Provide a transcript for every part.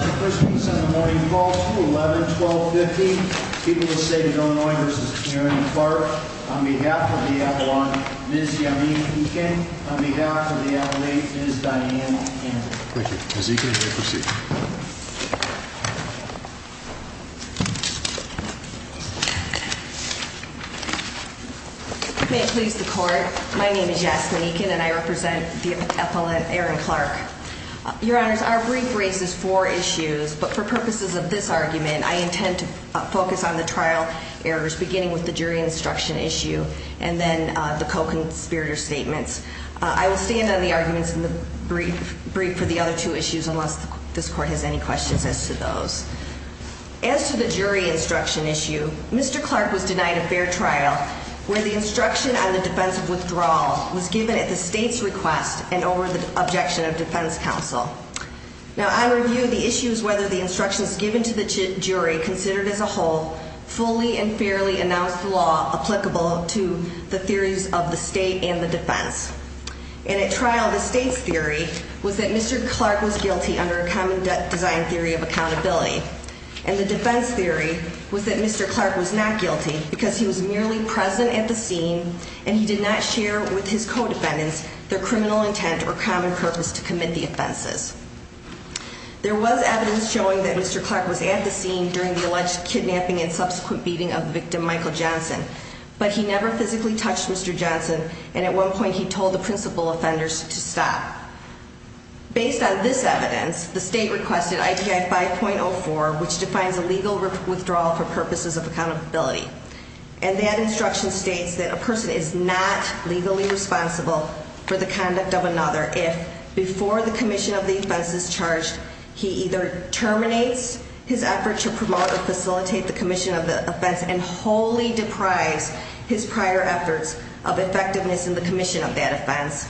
On behalf of the Avalon, Ms. Yasmine Eakin. On behalf of the LA, Ms. Dianne Campbell. Thank you. Ms. Eakin, you may proceed. If you may please the court, my name is Yasmin Eakin and I represent the Avalon Aaron Clarke. Your honors, our brief raises four issues, but for purposes of this argument, I intend to focus on the trial errors beginning with the jury instruction issue and then the co-conspirator statements. I will stand on the arguments in the brief for the other two issues unless this court has any questions as to those. As to the jury instruction issue, Mr. Clarke was denied a fair trial where the instruction on the defense of withdrawal was given at the state's request and over the objection of defense counsel. Now on review, the issue is whether the instructions given to the jury considered as a whole fully and fairly announced law applicable to the theories of the state and the defense. And at trial, the state's theory was that Mr. Clarke was guilty under a common design theory of accountability. And the defense theory was that Mr. Clarke was not guilty because he was merely present at the scene and he did not share with his co-defendants their criminal intent or common purpose to commit the offenses. There was evidence showing that Mr. Clarke was at the scene during the alleged kidnapping and subsequent beating of victim Michael Johnson. But he never physically touched Mr. Johnson and at one point he told the principal offenders to stop. Based on this evidence, the state requested IPI 5.04, which defines a legal withdrawal for purposes of accountability. And that instruction states that a person is not legally responsible for the conduct of another if, before the commission of the offense is charged, he either terminates his effort to promote or facilitate the commission of the offense and wholly deprives his prior efforts of effectiveness in the commission of that offense,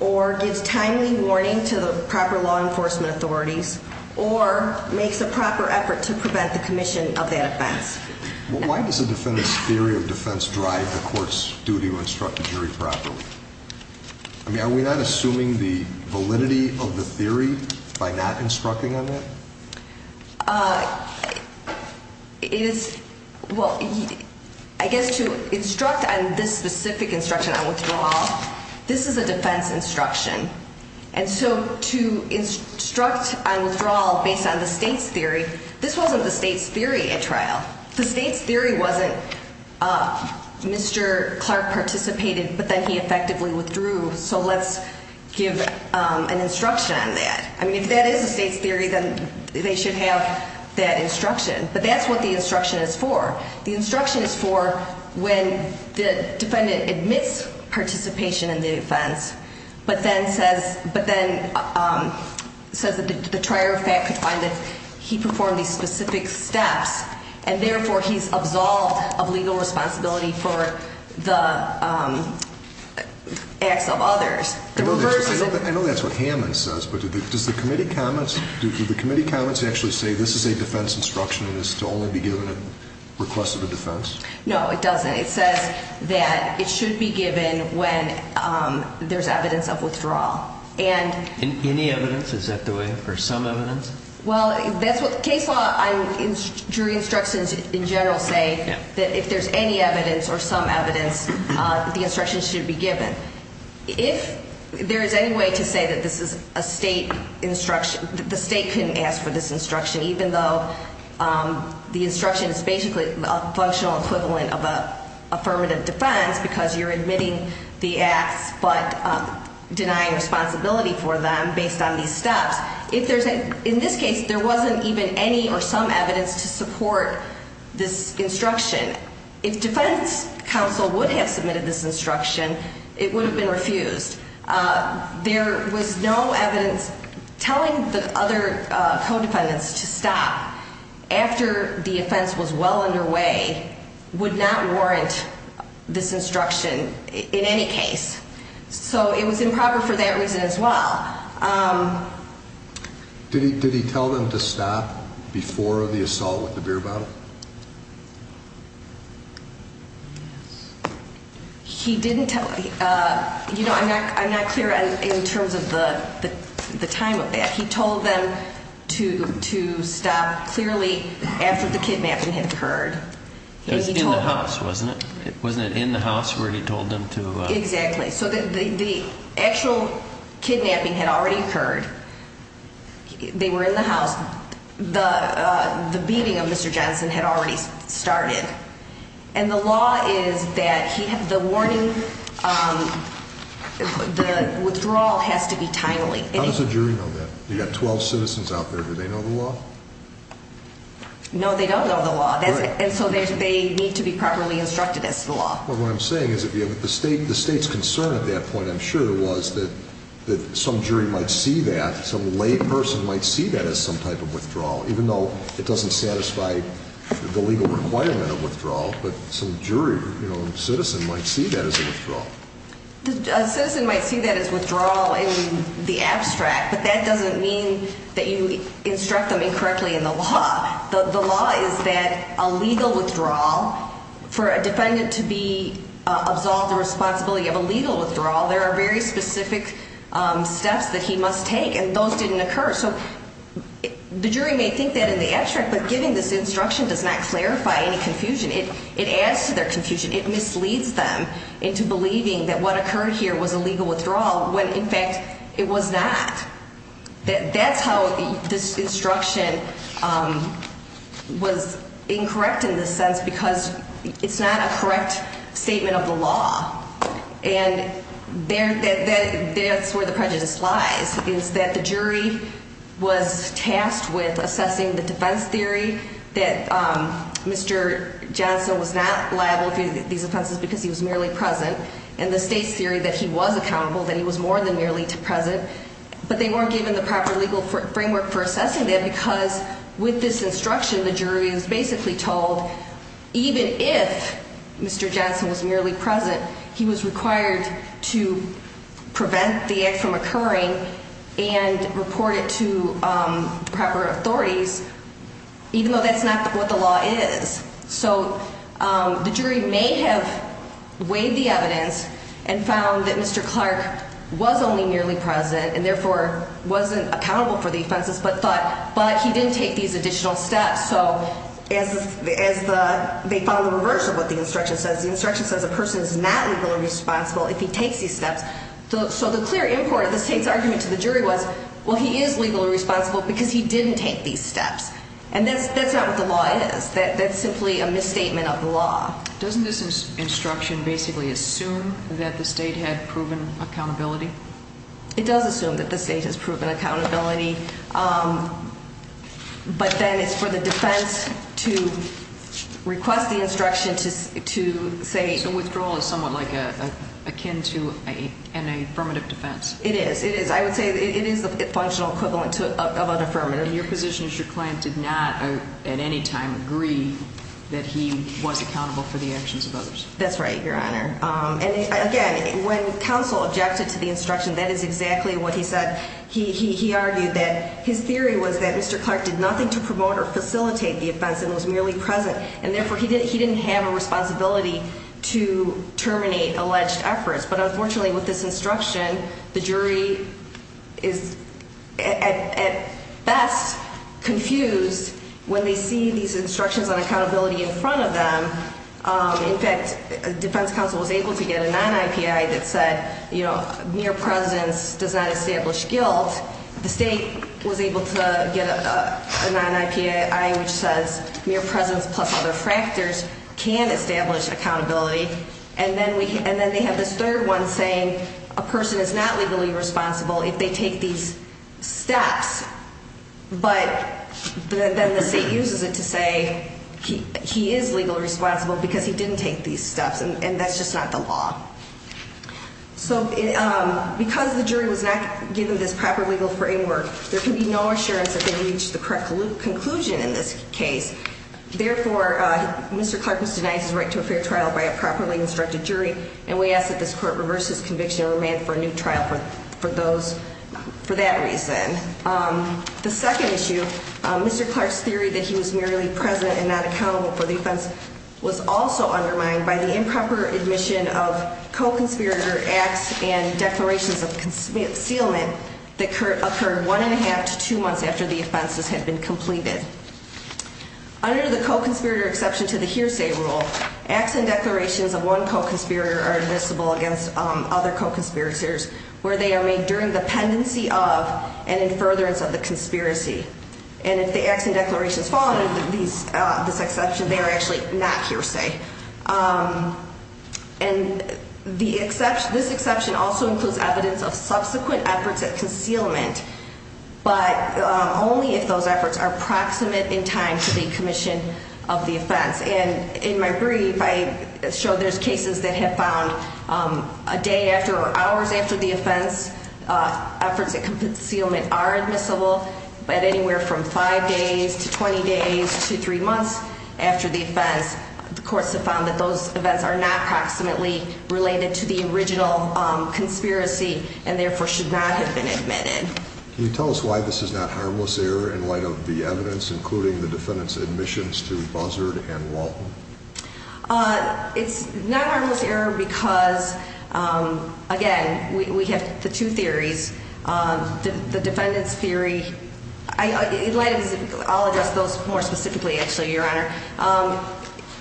or gives timely warning to the proper law enforcement authorities, or makes a proper effort to prevent the commission of that offense. Why does a defendant's theory of defense drive the court's duty to instruct the jury properly? I mean, are we not assuming the validity of the theory by not instructing on that? It is, well, I guess to instruct on this specific instruction on withdrawal, this is a defense instruction. And so to instruct on withdrawal based on the state's theory, this wasn't the state's theory at trial. The state's theory wasn't Mr. Clarke participated but then he effectively withdrew, so let's give an instruction on that. I mean, if that is the state's theory, then they should have that instruction. But that's what the instruction is for. The instruction is for when the defendant admits participation in the offense but then says that the trier of fact could find that he performed these specific steps, and therefore he's absolved of legal responsibility for the acts of others. I know that's what Hammond says, but does the committee comments actually say this is a defense instruction and is to only be given at request of a defense? No, it doesn't. It says that it should be given when there's evidence of withdrawal. Any evidence? Is that the way? Or some evidence? Well, that's what the case law jury instructions in general say, that if there's any evidence or some evidence, the instruction should be given. If there is any way to say that this is a state instruction, that the state couldn't ask for this instruction, even though the instruction is basically a functional equivalent of an affirmative defense because you're admitting the acts but denying responsibility for them based on these steps. In this case, there wasn't even any or some evidence to support this instruction. If defense counsel would have submitted this instruction, it would have been refused. There was no evidence telling the other co-defendants to stop after the offense was well underway would not warrant this instruction in any case. So it was improper for that reason as well. Did he tell them to stop before the assault with the beer bottle? He didn't tell them. I'm not clear in terms of the time of that. He told them to stop clearly after the kidnapping had occurred. It was in the house, wasn't it? Wasn't it in the house where he told them to? Exactly. So the actual kidnapping had already occurred. They were in the house. The beating of Mr. Johnson had already started. And the law is that the warning, the withdrawal has to be timely. How does the jury know that? You've got 12 citizens out there. Do they know the law? No, they don't know the law. And so they need to be properly instructed as to the law. Well, what I'm saying is the state's concern at that point, I'm sure, was that some jury might see that, some layperson might see that as some type of withdrawal, even though it doesn't satisfy the legal requirement of withdrawal, but some jury or citizen might see that as a withdrawal. A citizen might see that as withdrawal in the abstract, but that doesn't mean that you instruct them incorrectly in the law. The law is that a legal withdrawal, for a defendant to be absolved of the responsibility of a legal withdrawal, there are very specific steps that he must take, and those didn't occur. So the jury may think that in the abstract, but giving this instruction does not clarify any confusion. It adds to their confusion. It misleads them into believing that what occurred here was a legal withdrawal when, in fact, it was not. That's how this instruction was incorrect in this sense, because it's not a correct statement of the law. And that's where the prejudice lies, is that the jury was tasked with assessing the defense theory, that Mr. Johnson was not liable for these offenses because he was merely present, and the state's theory that he was accountable, that he was more than merely present, but they weren't given the proper legal framework for assessing that because with this instruction, the jury is basically told even if Mr. Johnson was merely present, he was required to prevent the act from occurring and report it to proper authorities, even though that's not what the law is. So the jury may have weighed the evidence and found that Mr. Clark was only merely present and therefore wasn't accountable for the offenses, but he didn't take these additional steps. So as they follow the reverse of what the instruction says, the instruction says a person is not legally responsible if he takes these steps. So the clear import of the state's argument to the jury was, well, he is legally responsible because he didn't take these steps. And that's not what the law is. That's simply a misstatement of the law. Doesn't this instruction basically assume that the state had proven accountability? It does assume that the state has proven accountability, but then it's for the defense to request the instruction to say. So withdrawal is somewhat like akin to an affirmative defense. It is. I would say it is the functional equivalent of an affirmative. And your position is your client did not at any time agree that he was accountable for the actions of others. That's right, Your Honor. And again, when counsel objected to the instruction, that is exactly what he said. He argued that his theory was that Mr. Clark did nothing to promote or facilitate the offense and was merely present, and therefore he didn't have a responsibility to terminate alleged efforts. But unfortunately with this instruction, the jury is at best confused when they see these instructions on accountability in front of them. In fact, defense counsel was able to get a non-IPI that said mere presence does not establish guilt. The state was able to get a non-IPI which says mere presence plus other factors can establish accountability. And then they have this third one saying a person is not legally responsible if they take these steps. But then the state uses it to say he is legally responsible because he didn't take these steps, and that's just not the law. So because the jury was not given this proper legal framework, there can be no assurance that they reached the correct conclusion in this case. Therefore, Mr. Clark was denied his right to a fair trial by a properly instructed jury, and we ask that this court reverse his conviction and remand for a new trial for that reason. The second issue, Mr. Clark's theory that he was merely present and not accountable for the offense was also undermined by the improper admission of co-conspirator acts and declarations of concealment that occurred one and a half to two months after the offenses had been completed. Under the co-conspirator exception to the hearsay rule, acts and declarations of one co-conspirator are admissible against other co-conspirators where they are made during the pendency of and in furtherance of the conspiracy. And if the acts and declarations fall under this exception, they are actually not hearsay. And this exception also includes evidence of subsequent efforts at concealment, but only if those efforts are proximate in time to the commission of the offense. And in my brief, I show there's cases that have found a day after or hours after the offense, efforts at concealment are admissible, but anywhere from five days to 20 days to three months after the offense, the courts have found that those events are not proximately related to the original conspiracy and therefore should not have been admitted. Can you tell us why this is not harmless error in light of the evidence, including the defendant's admissions to Buzzard and Walton? It's not harmless error because, again, we have the two theories. The defendant's theory, I'll address those more specifically, actually, Your Honor.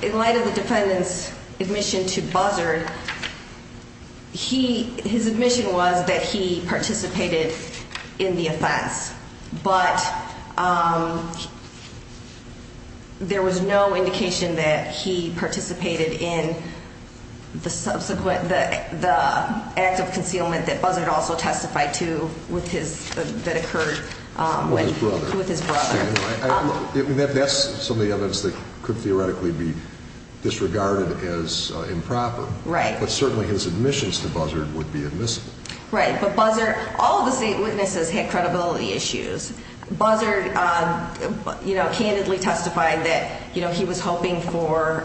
In light of the defendant's admission to Buzzard, his admission was that he participated in the offense, but there was no indication that he participated in the act of concealment that Buzzard also testified to that occurred with his brother. That's some of the evidence that could theoretically be disregarded as improper. Right. But certainly his admissions to Buzzard would be admissible. Right. But Buzzard, all of the state witnesses had credibility issues. Buzzard, you know, candidly testified that, you know, he was hoping for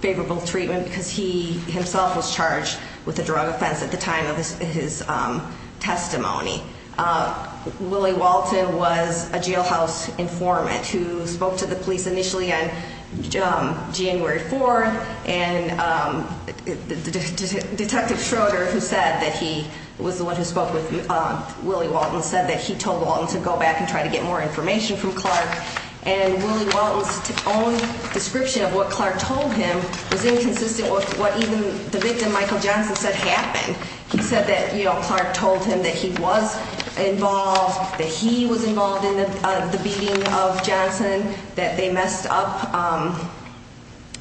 favorable treatment because he himself was charged with a drug offense at the time of his testimony. Willie Walton was a jailhouse informant who spoke to the police initially on January 4th, and Detective Schroeder, who said that he was the one who spoke with Willie Walton, said that he told Walton to go back and try to get more information from Clark. And Willie Walton's own description of what Clark told him was inconsistent with what even the victim, Michael Johnson, said happened. He said that, you know, Clark told him that he was involved, that he was involved in the beating of Johnson, that they messed up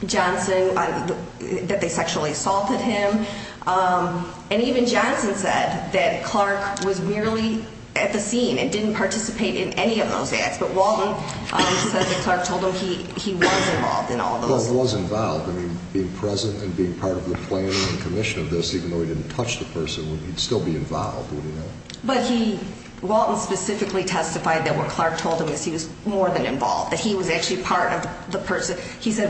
Johnson, that they sexually assaulted him. And even Johnson said that Clark was merely at the scene and didn't participate in any of those acts. But Walton said that Clark told him he was involved in all those. Well, he was involved. I mean, being present and being part of the planning and commission of this, even though he didn't touch the person, he'd still be involved, wouldn't he? But he, Walton specifically testified that what Clark told him is he was more than involved, that he was actually part of the person. He said,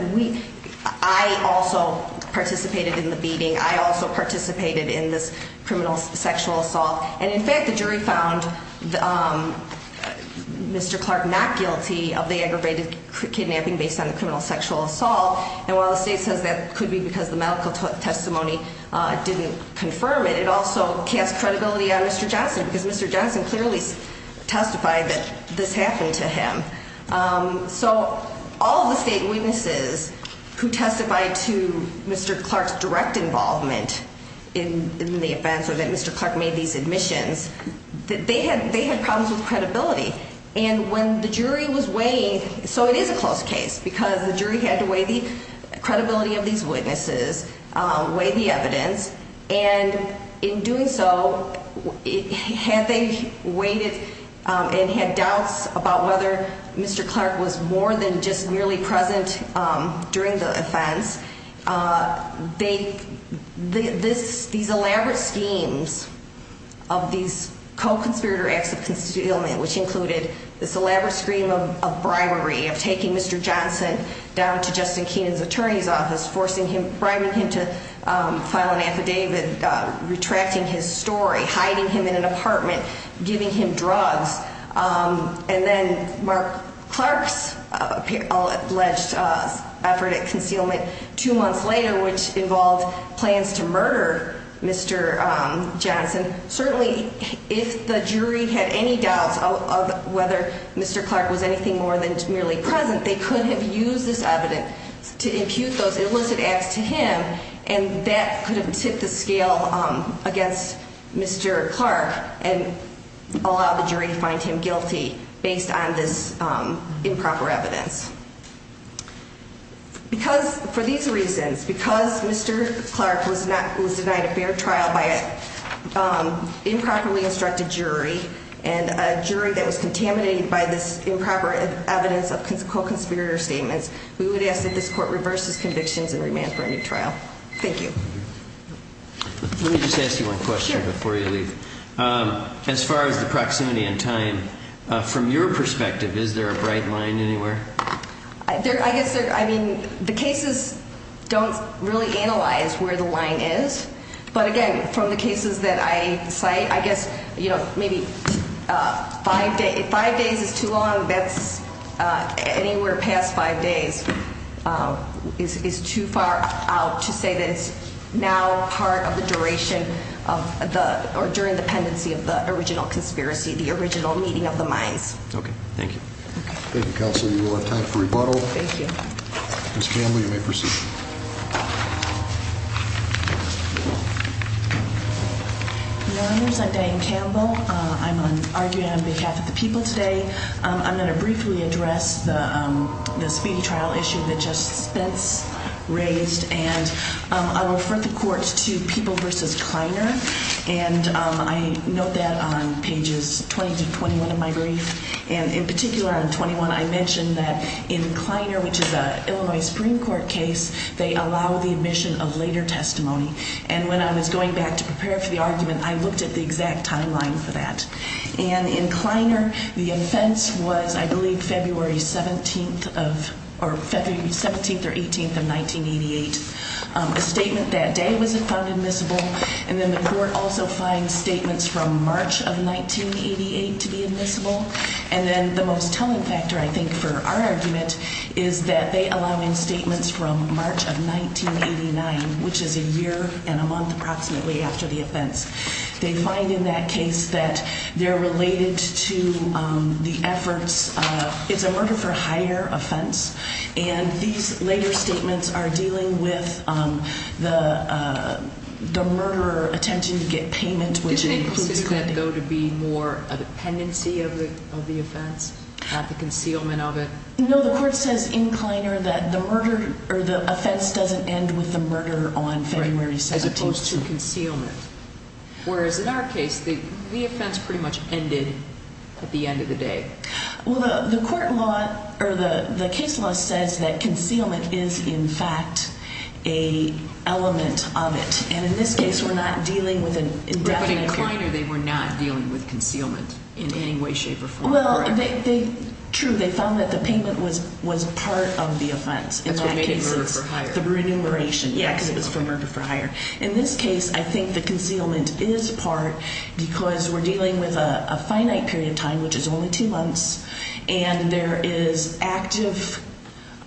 I also participated in the beating. I also participated in this criminal sexual assault. And in fact, the jury found Mr. Clark not guilty of the aggravated kidnapping based on the criminal sexual assault. And while the state says that could be because the medical testimony didn't confirm it, it also casts credibility on Mr. Johnson because Mr. Johnson clearly testified that this happened to him. So all of the state witnesses who testified to Mr. Clark's direct involvement in the offense or that Mr. Clark made these admissions, they had problems with credibility. And when the jury was weighing, so it is a close case because the jury had to weigh the credibility of these witnesses, weigh the evidence, and in doing so, had they weighed it and had doubts about whether Mr. Clark was more than just nearly present during the offense, these elaborate schemes of these co-conspirator acts of constituted element, which included this elaborate scheme of bribery of taking Mr. Johnson down to Justin Keenan's attorney's office, forcing him, bribing him to file an affidavit, retracting his story, hiding him in an apartment, giving him drugs. And then Mark Clark's alleged effort at concealment two months later, which involved plans to murder Mr. Johnson. Certainly, if the jury had any doubts of whether Mr. Clark was anything more than merely present, they could have used this evidence to impute those illicit acts to him, and that could have tipped the scale against Mr. Clark and allowed the jury to find him guilty based on this improper evidence. For these reasons, because Mr. Clark was denied a fair trial by an improperly instructed jury, and a jury that was contaminated by this improper evidence of co-conspirator statements, we would ask that this court reverse its convictions and remand for a new trial. Thank you. Let me just ask you one question before you leave. Sure. As far as the proximity and time, from your perspective, is there a bright line anywhere? I guess, I mean, the cases don't really analyze where the line is. But again, from the cases that I cite, I guess, you know, maybe five days is too long. Anywhere past five days is too far out to say that it's now part of the duration, or during the pendency of the original conspiracy, the original meeting of the minds. Okay. Thank you. Thank you, Counsel. You will have time for rebuttal. Thank you. Ms. Campbell, you may proceed. Your Honors, I'm Diane Campbell. I'm arguing on behalf of the people today. I'm going to briefly address the speedy trial issue that Justice Spence raised. And I will refer the court to People v. Kleiner. And I note that on pages 20 to 21 of my brief. And in particular, on 21, I mention that in Kleiner, which is an Illinois Supreme Court case, they allow the admission of later testimony. And when I was going back to prepare for the argument, I looked at the exact timeline for that. And in Kleiner, the offense was, I believe, February 17th or 18th of 1988. A statement that day was found admissible. And then the court also finds statements from March of 1988 to be admissible. And then the most telling factor, I think, for our argument is that they allow in statements from March of 1989, which is a year and a month approximately after the offense. They find in that case that they're related to the efforts. It's a murder for hire offense. And these later statements are dealing with the murderer attempting to get payment, which includes. Does that go to be more a dependency of the offense? Not the concealment of it? No, the court says in Kleiner that the murder or the offense doesn't end with the murder on February 17th. Whereas in our case, the offense pretty much ended at the end of the day. Well, the court law or the case law says that concealment is, in fact, an element of it. And in this case, we're not dealing with an indefinite period. But in Kleiner, they were not dealing with concealment in any way, shape, or form. Well, true. They found that the payment was part of the offense. That's what made it murder for hire. The remuneration, yeah, because it was for murder for hire. In this case, I think the concealment is part because we're dealing with a finite period of time, which is only two months. And there is active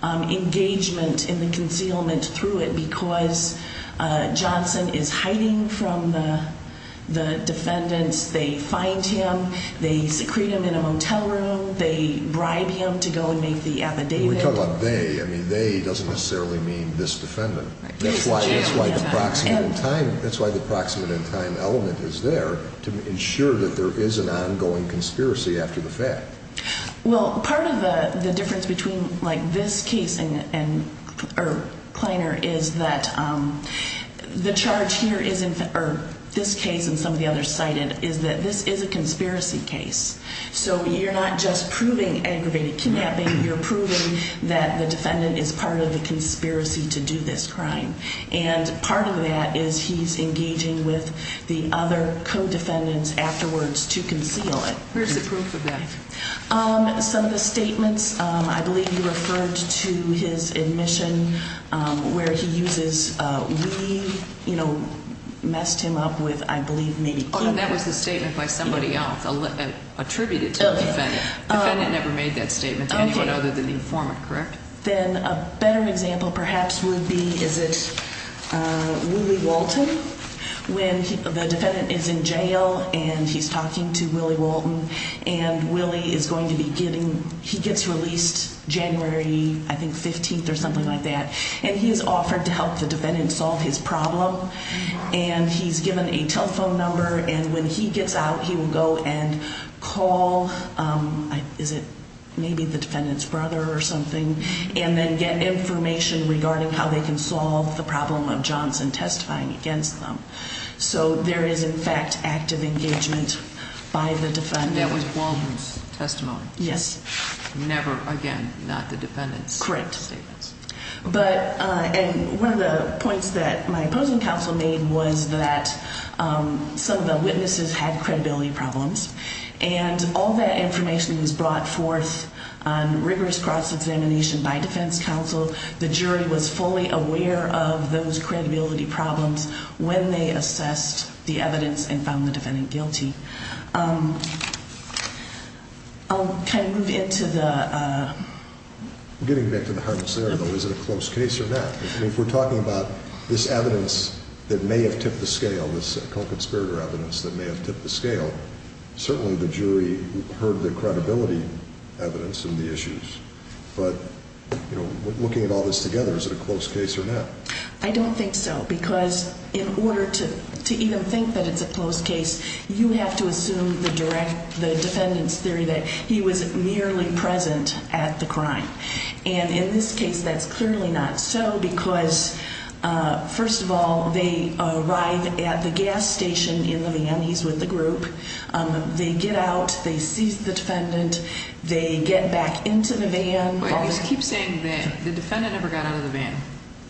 engagement in the concealment through it because Johnson is hiding from the defendants. They find him. They secrete him in a motel room. They bribe him to go and make the affidavit. When we talk about they, I mean they doesn't necessarily mean this defendant. That's why the proximate in time element is there to ensure that there is an ongoing conspiracy after the fact. Well, part of the difference between, like, this case and Kleiner is that the charge here is, or this case and some of the others cited, is that this is a conspiracy case. So you're not just proving aggravated kidnapping. You're proving that the defendant is part of the conspiracy to do this crime. And part of that is he's engaging with the other co-defendants afterwards to conceal it. Where's the proof of that? Some of the statements, I believe you referred to his admission where he uses we, you know, messed him up with, I believe, maybe kidnapping. That was the statement by somebody else attributed to the defendant. The defendant never made that statement to anyone other than the informant, correct? Then a better example perhaps would be, is it Willie Walton? When the defendant is in jail and he's talking to Willie Walton and Willie is going to be getting, he gets released January, I think, 15th or something like that. And he's offered to help the defendant solve his problem. And he's given a telephone number. And when he gets out, he will go and call, is it maybe the defendant's brother or something? And then get information regarding how they can solve the problem of Johnson testifying against them. So there is, in fact, active engagement by the defendant. That was Walton's testimony. Yes. Never, again, not the defendant's statements. Correct. But, and one of the points that my opposing counsel made was that some of the witnesses had credibility problems. And all that information was brought forth on rigorous cross-examination by defense counsel. The jury was fully aware of those credibility problems when they assessed the evidence and found the defendant guilty. I'll kind of move into the. Getting back to the harmless error, though, is it a close case or not? I mean, if we're talking about this evidence that may have tipped the scale, this co-conspirator evidence that may have tipped the scale, certainly the jury heard the credibility evidence in the issues. But, you know, looking at all this together, is it a close case or not? I don't think so. Because in order to even think that it's a close case, you have to assume the defendant's theory that he was merely present at the crime. And in this case, that's clearly not so because, first of all, they arrive at the gas station in the van. He's with the group. They get out. They seize the defendant. They get back into the van. You keep saying the defendant never got out of the van.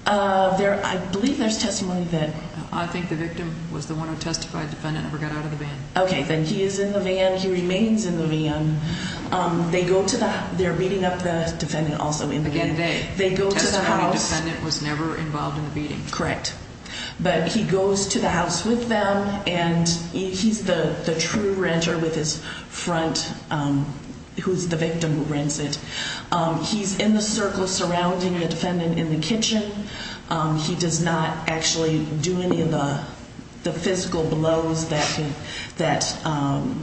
I believe there's testimony that. I think the victim was the one who testified the defendant never got out of the van. Okay, then he is in the van. He remains in the van. They go to the house. They're beating up the defendant also in the van. Again, they. They go to the house. The testimony defendant was never involved in the beating. Correct. But he goes to the house with them, and he's the true renter with his front, who's the victim who rents it. He's in the circle surrounding the defendant in the kitchen. He does not actually do any of the physical blows that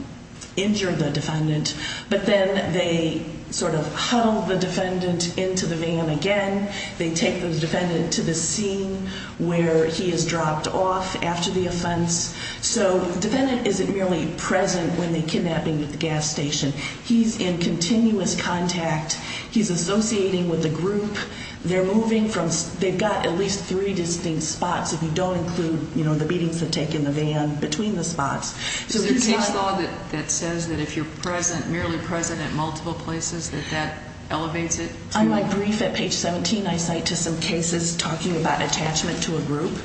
injure the defendant. But then they sort of huddle the defendant into the van again. They take the defendant to the scene where he is dropped off after the offense. So the defendant isn't merely present when they're kidnapping at the gas station. He's in continuous contact. He's associating with the group. They're moving from. They've got at least three distinct spots if you don't include, you know, the beatings they take in the van between the spots. Is there a case law that says that if you're present, merely present at multiple places, that that elevates it? On my brief at page 17, I cite to some cases talking about attachment to a group,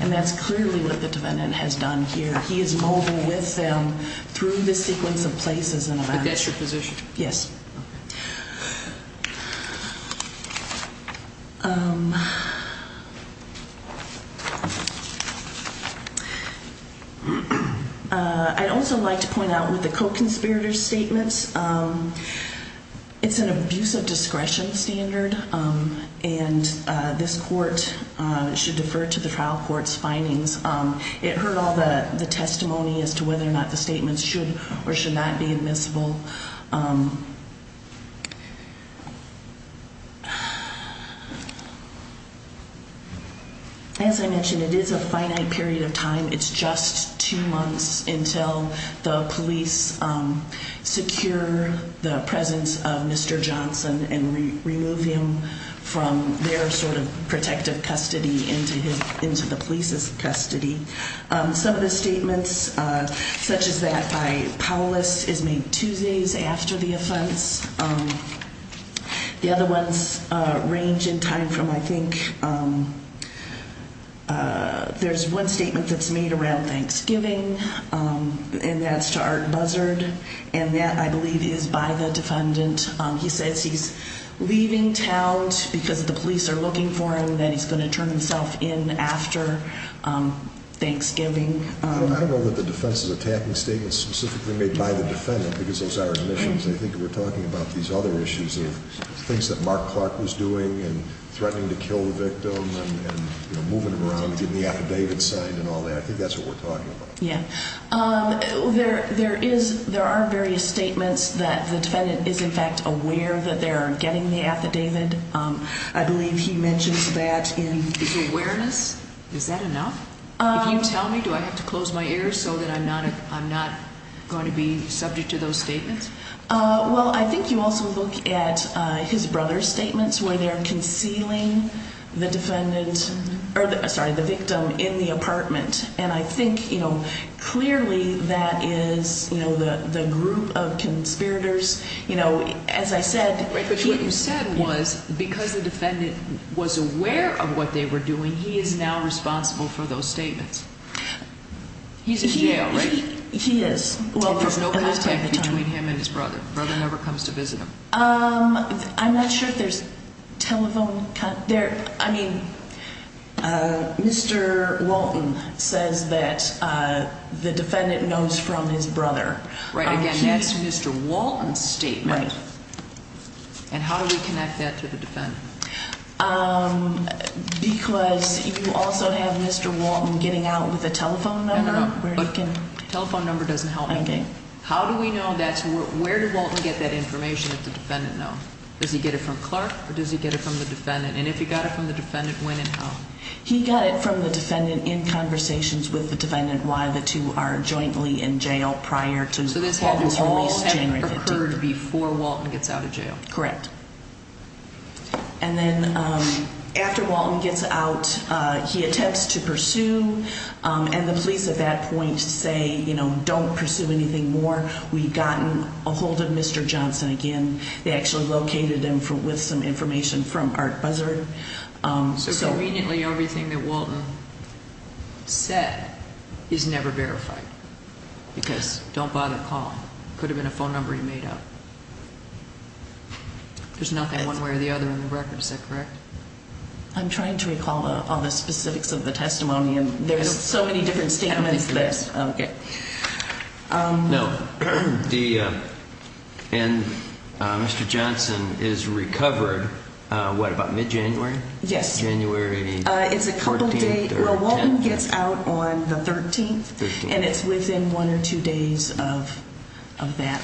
and that's clearly what the defendant has done here. He is mobile with them through the sequence of places in a van. But that's your position? Yes. I'd also like to point out with the co-conspirator statements, it's an abuse of discretion standard, and this court should defer to the trial court's findings. It heard all the testimony as to whether or not the statements should or should not be admissible. As I mentioned, it is a finite period of time. It's just two months until the police secure the presence of Mr. Johnson and remove him from their sort of protective custody into the police's custody. Some of the statements, such as that by Paulus, is made two days after the offense. The other ones range in time from, I think, there's one statement that's made around Thanksgiving, and that's to Art Buzzard, and that, I believe, is by the defendant. He says he's leaving town because the police are looking for him, that he's going to turn himself in after Thanksgiving. I don't know that the defense is attacking statements specifically made by the defendant because those are admissions. I think we're talking about these other issues of things that Mark Clark was doing and threatening to kill the victim and moving him around and getting the affidavit signed and all that. I think that's what we're talking about. There are various statements that the defendant is, in fact, aware that they're getting the affidavit. I believe he mentions that in his awareness. Is that enough? If you tell me, do I have to close my ears so that I'm not going to be subject to those statements? Well, I think you also look at his brother's statements where they're concealing the victim in the apartment. And I think clearly that is the group of conspirators. As I said— But what you said was because the defendant was aware of what they were doing, he is now responsible for those statements. He's in jail, right? He is. There's no contact between him and his brother. His brother never comes to visit him. I'm not sure if there's telephone—I mean, Mr. Walton says that the defendant knows from his brother. Right. Again, that's Mr. Walton's statement. Right. And how do we connect that to the defendant? Because you also have Mr. Walton getting out with a telephone number where he can— Telephone number doesn't help me. Okay. How do we know that's—where did Walton get that information that the defendant knows? Does he get it from Clark or does he get it from the defendant? And if he got it from the defendant, when and how? He got it from the defendant in conversations with the defendant while the two are jointly in jail prior to Walton's release January 15th. So this all had occurred before Walton gets out of jail. Correct. And then after Walton gets out, he attempts to pursue, and the police at that point say, you know, don't pursue anything more. We've gotten a hold of Mr. Johnson again. They actually located him with some information from Art Buzzard. So conveniently, everything that Walton said is never verified because don't bother calling. Could have been a phone number he made up. There's nothing one way or the other in the record. Is that correct? I'm trying to recall all the specifics of the testimony, and there's so many different statements. I don't think there is. Okay. No. And Mr. Johnson is recovered, what, about mid-January? Yes. January 14th or 10th?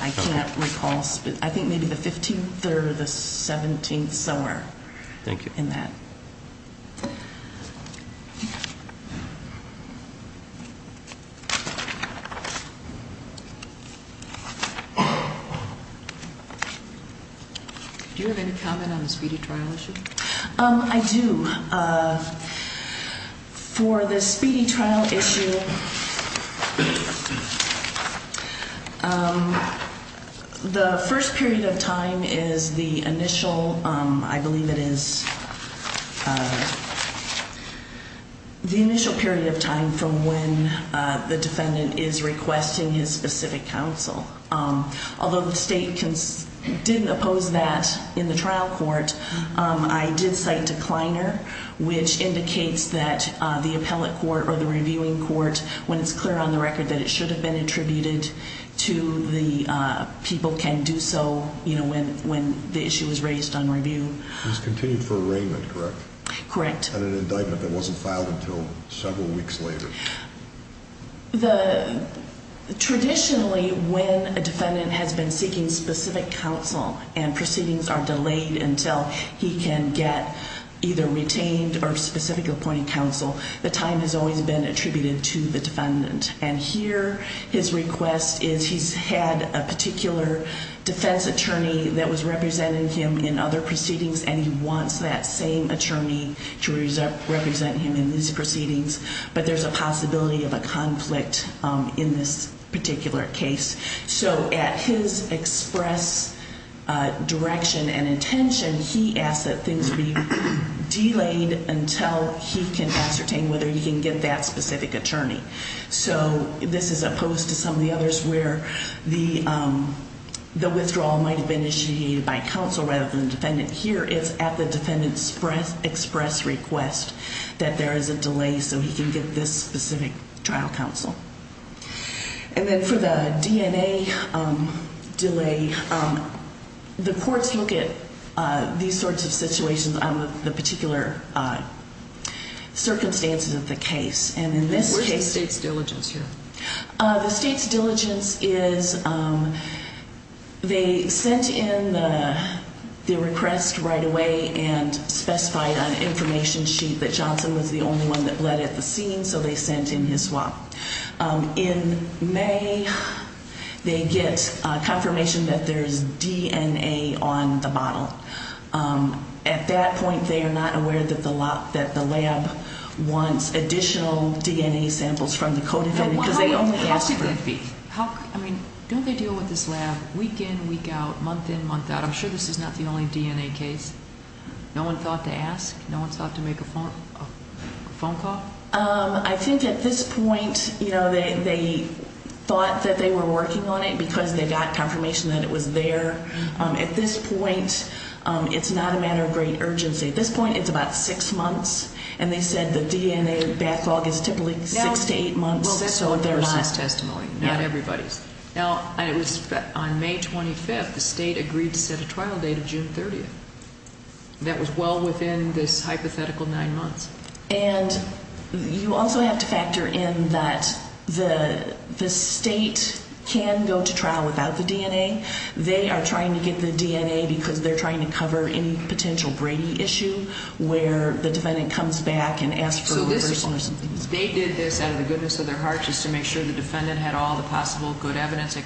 I can't recall. I think maybe the 15th or the 17th somewhere in that. Thank you. Do you have any comment on the speedy trial issue? I do. For the speedy trial issue, the first period of time is the initial, I believe it is, the initial period of time from when the defendant is requesting his specific counsel. Although the state didn't oppose that in the trial court, I did cite decliner, which indicates that the appellate court or the reviewing court, when it's clear on the record that it should have been attributed to the people can do so when the issue is raised on review. It was continued for arraignment, correct? Correct. And an indictment that wasn't filed until several weeks later. Traditionally, when a defendant has been seeking specific counsel and proceedings are delayed until he can get either retained or specific appointed counsel, the time has always been attributed to the defendant. And here his request is he's had a particular defense attorney that was representing him in other proceedings, and he wants that same attorney to represent him in these proceedings. But there's a possibility of a conflict in this particular case. So at his express direction and intention, he asks that things be delayed until he can ascertain whether he can get that specific attorney. So this is opposed to some of the others where the withdrawal might have been initiated by counsel rather than defendant. Here it's at the defendant's express request that there is a delay so he can get this specific trial counsel. And then for the DNA delay, the courts look at these sorts of situations on the particular circumstances of the case. Where's the state's diligence here? The state's diligence is they sent in the request right away and specified on an information sheet that Johnson was the only one that bled at the scene, so they sent in his swap. In May, they get confirmation that there's DNA on the bottle. At that point, they are not aware that the lab wants additional DNA samples from the code. How could that be? Don't they deal with this lab week in, week out, month in, month out? I'm sure this is not the only DNA case. No one thought to ask? No one thought to make a phone call? I think at this point, they thought that they were working on it because they got confirmation that it was there. At this point, it's not a matter of great urgency. At this point, it's about six months, and they said the DNA backlog is typically six to eight months. Well, that's on the person's testimony, not everybody's. Now, on May 25th, the state agreed to set a trial date of June 30th. That was well within this hypothetical nine months. And you also have to factor in that the state can go to trial without the DNA. They are trying to get the DNA because they're trying to cover any potential Brady issue where the defendant comes back and asks for a person or something. So they did this out of the goodness of their heart just to make sure the defendant had all the possible good evidence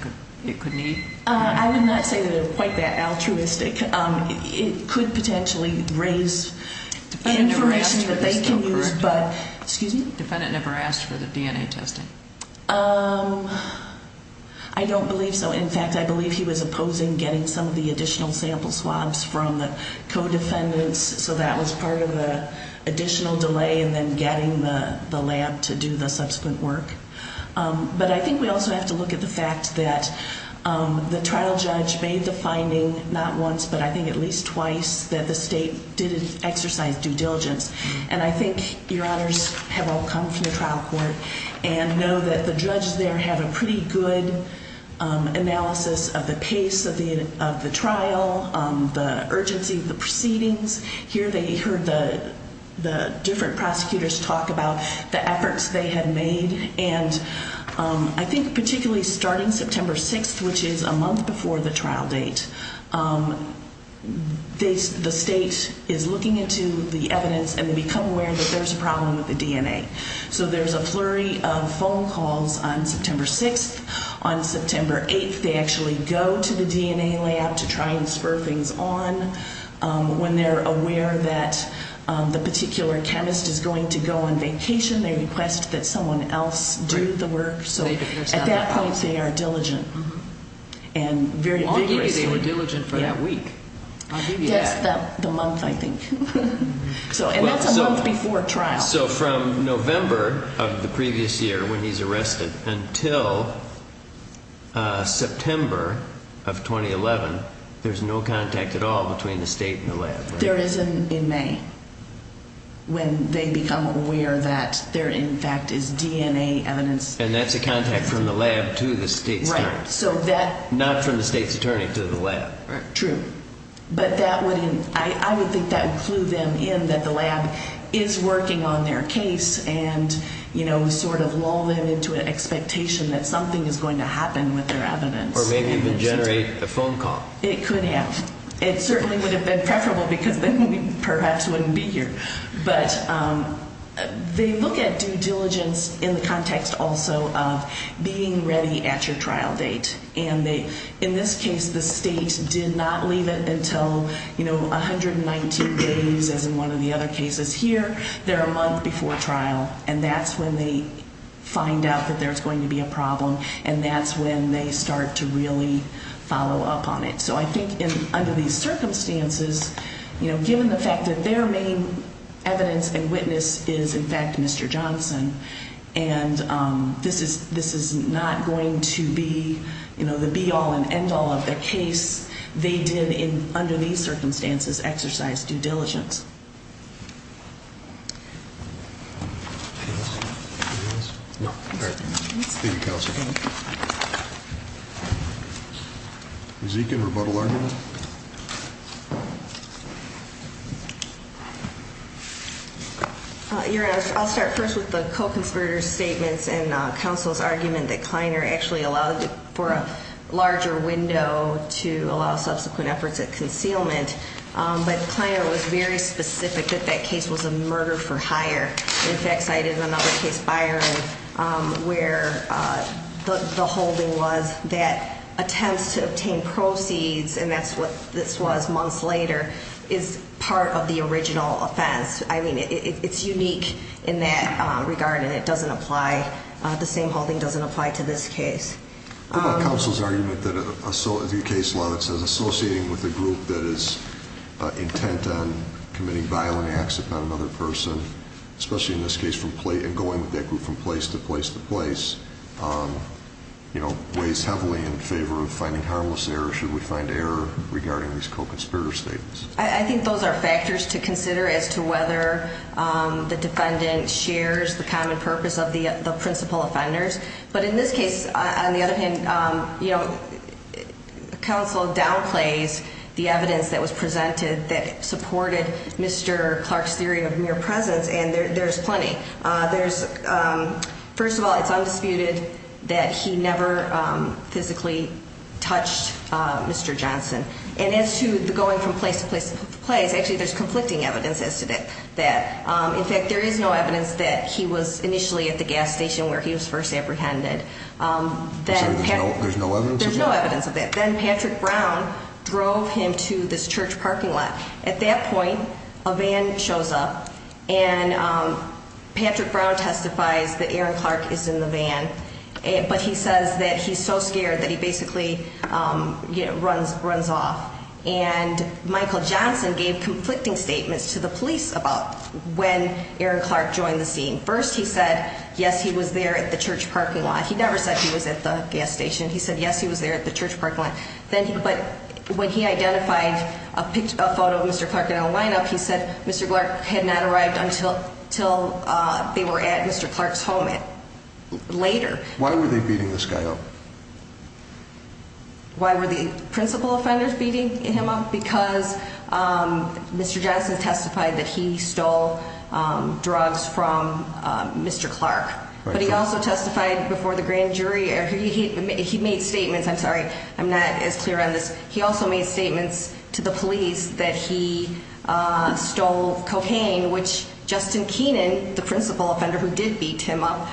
it could need? I would not say that it was quite that altruistic. It could potentially raise information that they can use, but excuse me? The defendant never asked for the DNA testing. I don't believe so. In fact, I believe he was opposing getting some of the additional sample swabs from the co-defendants, so that was part of the additional delay and then getting the lab to do the subsequent work. But I think we also have to look at the fact that the trial judge made the finding not once, but I think at least twice, that the state didn't exercise due diligence. And I think your honors have all come from the trial court and know that the judge there had a pretty good analysis of the pace of the trial, the urgency of the proceedings. Here they heard the different prosecutors talk about the efforts they had made. And I think particularly starting September 6th, which is a month before the trial date, the state is looking into the evidence and they become aware that there's a problem with the DNA. So there's a flurry of phone calls on September 6th. On September 8th, they actually go to the DNA lab to try and spur things on. When they're aware that the particular chemist is going to go on vacation, they request that someone else do the work. So at that point, they are diligent and very vigorous. They were diligent for that week. That's the month, I think. And that's a month before trial. So from November of the previous year when he's arrested until September of 2011, there's no contact at all between the state and the lab. There isn't in May when they become aware that there, in fact, is DNA evidence. And that's a contact from the lab to the state's time. Not from the state's attorney to the lab. True. But I would think that would clue them in that the lab is working on their case and sort of lull them into an expectation that something is going to happen with their evidence. Or maybe even generate a phone call. It could have. It certainly would have been preferable because then we perhaps wouldn't be here. But they look at due diligence in the context also of being ready at your trial date. And in this case, the state did not leave it until, you know, 119 days as in one of the other cases. Here, they're a month before trial. And that's when they find out that there's going to be a problem. And that's when they start to really follow up on it. So I think under these circumstances, you know, given the fact that their main evidence and witness is, in fact, Mr. Johnson, and this is not going to be, you know, the be-all and end-all of the case. They did, under these circumstances, exercise due diligence. Anything else? No? All right. Thank you, counsel. Thank you. Zekin, rebuttal argument? Your Honor, I'll start first with the co-conspirator's statements and counsel's argument that Kleiner actually allowed for a larger window to allow subsequent efforts at concealment. But Kleiner was very specific that that case was a murder for hire. In fact, cited another case, Byron, where the holding was that attempts to obtain proceeds, and that's what this was months later, is part of the original offense. I mean, it's unique in that regard, and it doesn't apply. The same holding doesn't apply to this case. What about counsel's argument that the case law that says associating with a group that is intent on committing violent acts upon another person, especially in this case and going with that group from place to place to place, weighs heavily in favor of finding harmless error. Should we find error regarding these co-conspirator statements? I think those are factors to consider as to whether the defendant shares the common purpose of the principal offenders. But in this case, on the other hand, counsel downplays the evidence that was presented that supported Mr. Clark's theory of mere presence, and there's plenty. First of all, it's undisputed that he never physically touched Mr. Johnson. And as to the going from place to place to place, actually there's conflicting evidence as to that. In fact, there is no evidence that he was initially at the gas station where he was first apprehended. There's no evidence? There's no evidence of that. Then Patrick Brown drove him to this church parking lot. At that point, a van shows up, and Patrick Brown testifies that Aaron Clark is in the van, but he says that he's so scared that he basically runs off. And Michael Johnson gave conflicting statements to the police about when Aaron Clark joined the scene. First he said, yes, he was there at the church parking lot. He never said he was at the gas station. He said, yes, he was there at the church parking lot. But when he identified a photo of Mr. Clark in a lineup, he said Mr. Clark had not arrived until they were at Mr. Clark's home later. Why were they beating this guy up? Why were the principal offenders beating him up? Because Mr. Johnson testified that he stole drugs from Mr. Clark. But he also testified before the grand jury. He made statements. I'm sorry. I'm not as clear on this. He also made statements to the police that he stole cocaine, which Justin Keenan, the principal offender who did beat him up,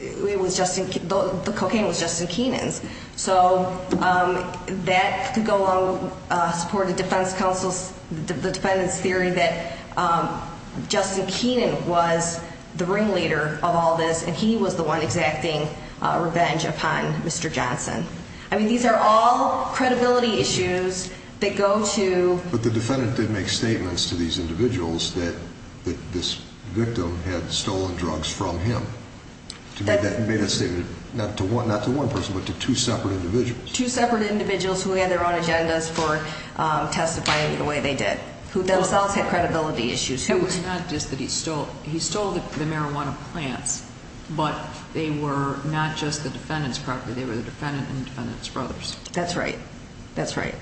the cocaine was Justin Keenan's. So that could go along with support of the defense counsel's, the defendant's theory that Justin Keenan was the ringleader of all this, and he was the one exacting revenge upon Mr. Johnson. I mean, these are all credibility issues that go to. But the defendant did make statements to these individuals that this victim had stolen drugs from him. Not to one person, but to two separate individuals. Two separate individuals who had their own agendas for testifying the way they did, who themselves had credibility issues. It was not just that he stole the marijuana plants, but they were not just the defendant's property. They were the defendant and the defendant's brothers. That's right. That's right.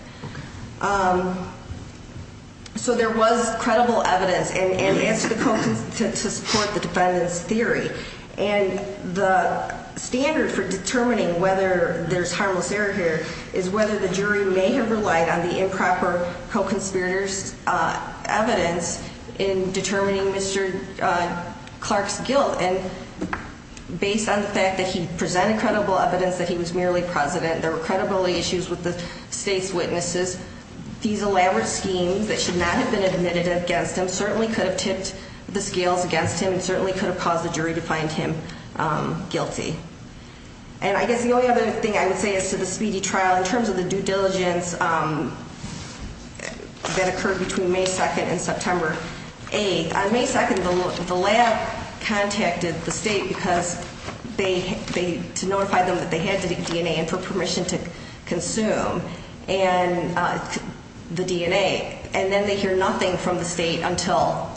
So there was credible evidence, and it's to support the defendant's theory. And the standard for determining whether there's harmless error here is whether the jury may have relied on the improper co-conspirator's evidence in determining Mr. Clark's guilt. And based on the fact that he presented credible evidence that he was merely president, there were credibility issues with the state's witnesses. These elaborate schemes that should not have been admitted against him certainly could have tipped the scales against him and certainly could have caused the jury to find him guilty. And I guess the only other thing I would say is to the speedy trial in terms of the due diligence that occurred between May 2nd and September 8th. On May 2nd, the lab contacted the state to notify them that they had DNA and for permission to consume the DNA. And then they hear nothing from the state until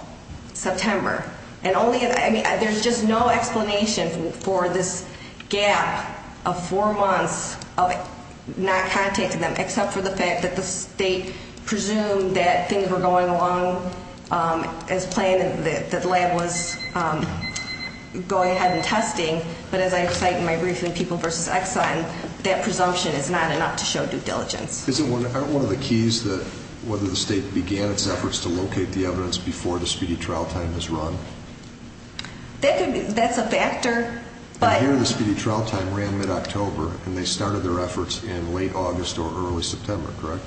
September. I mean, there's just no explanation for this gap of four months of not contacting them except for the fact that the state presumed that things were going along as planned and that the lab was going ahead and testing. But as I cite in my briefing, People v. Exxon, that presumption is not enough to show due diligence. Isn't one of the keys that whether the state began its efforts to locate the evidence before the speedy trial time was run? That's a factor, but... And here the speedy trial time ran mid-October and they started their efforts in late August or early September, correct?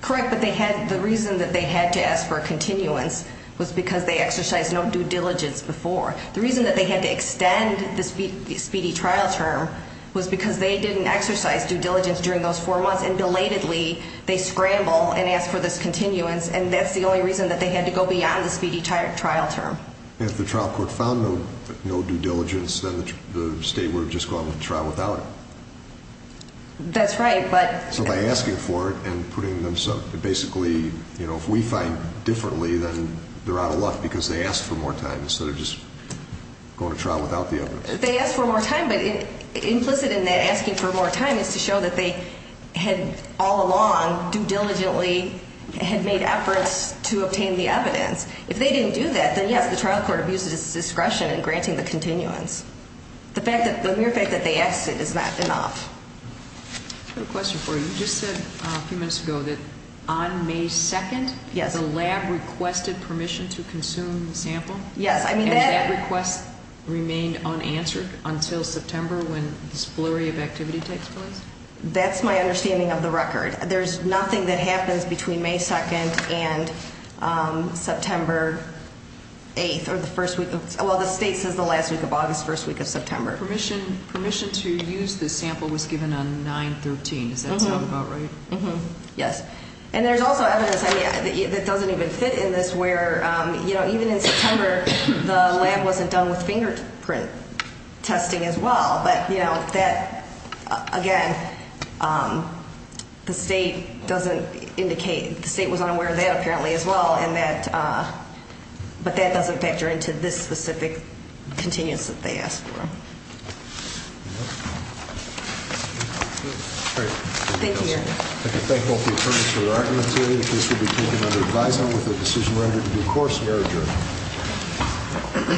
Correct, but the reason that they had to ask for a continuance was because they exercised no due diligence before. The reason that they had to extend the speedy trial term was because they didn't exercise due diligence during those four months. And belatedly, they scramble and ask for this continuance. And that's the only reason that they had to go beyond the speedy trial term. If the trial court found no due diligence, then the state would have just gone with the trial without it. That's right, but... Well, by asking for it and putting themselves... Basically, you know, if we find differently, then they're out of luck because they asked for more time instead of just going to trial without the evidence. They asked for more time, but implicit in that asking for more time is to show that they had all along, due diligently, had made efforts to obtain the evidence. If they didn't do that, then yes, the trial court abused its discretion in granting the continuance. The mere fact that they asked it is not enough. I have a question for you. You just said a few minutes ago that on May 2nd... Yes. ...the lab requested permission to consume the sample. Yes, I mean that... And that request remained unanswered until September when this flurry of activity takes place? That's my understanding of the record. There's nothing that happens between May 2nd and September 8th or the first week of... Well, the state says the last week of August, first week of September. Permission to use the sample was given on 9-13. Does that sound about right? Yes. And there's also evidence that doesn't even fit in this where, you know, even in September, the lab wasn't done with fingerprint testing as well. But, you know, that, again, the state doesn't indicate, the state was unaware of that apparently as well. And that, but that doesn't factor into this specific continuance that they asked for. Thank you, Your Honor. I'd like to thank both the attorneys for their argument today. The case will be taken under advisory with a decision rendered in due course. May I adjourn?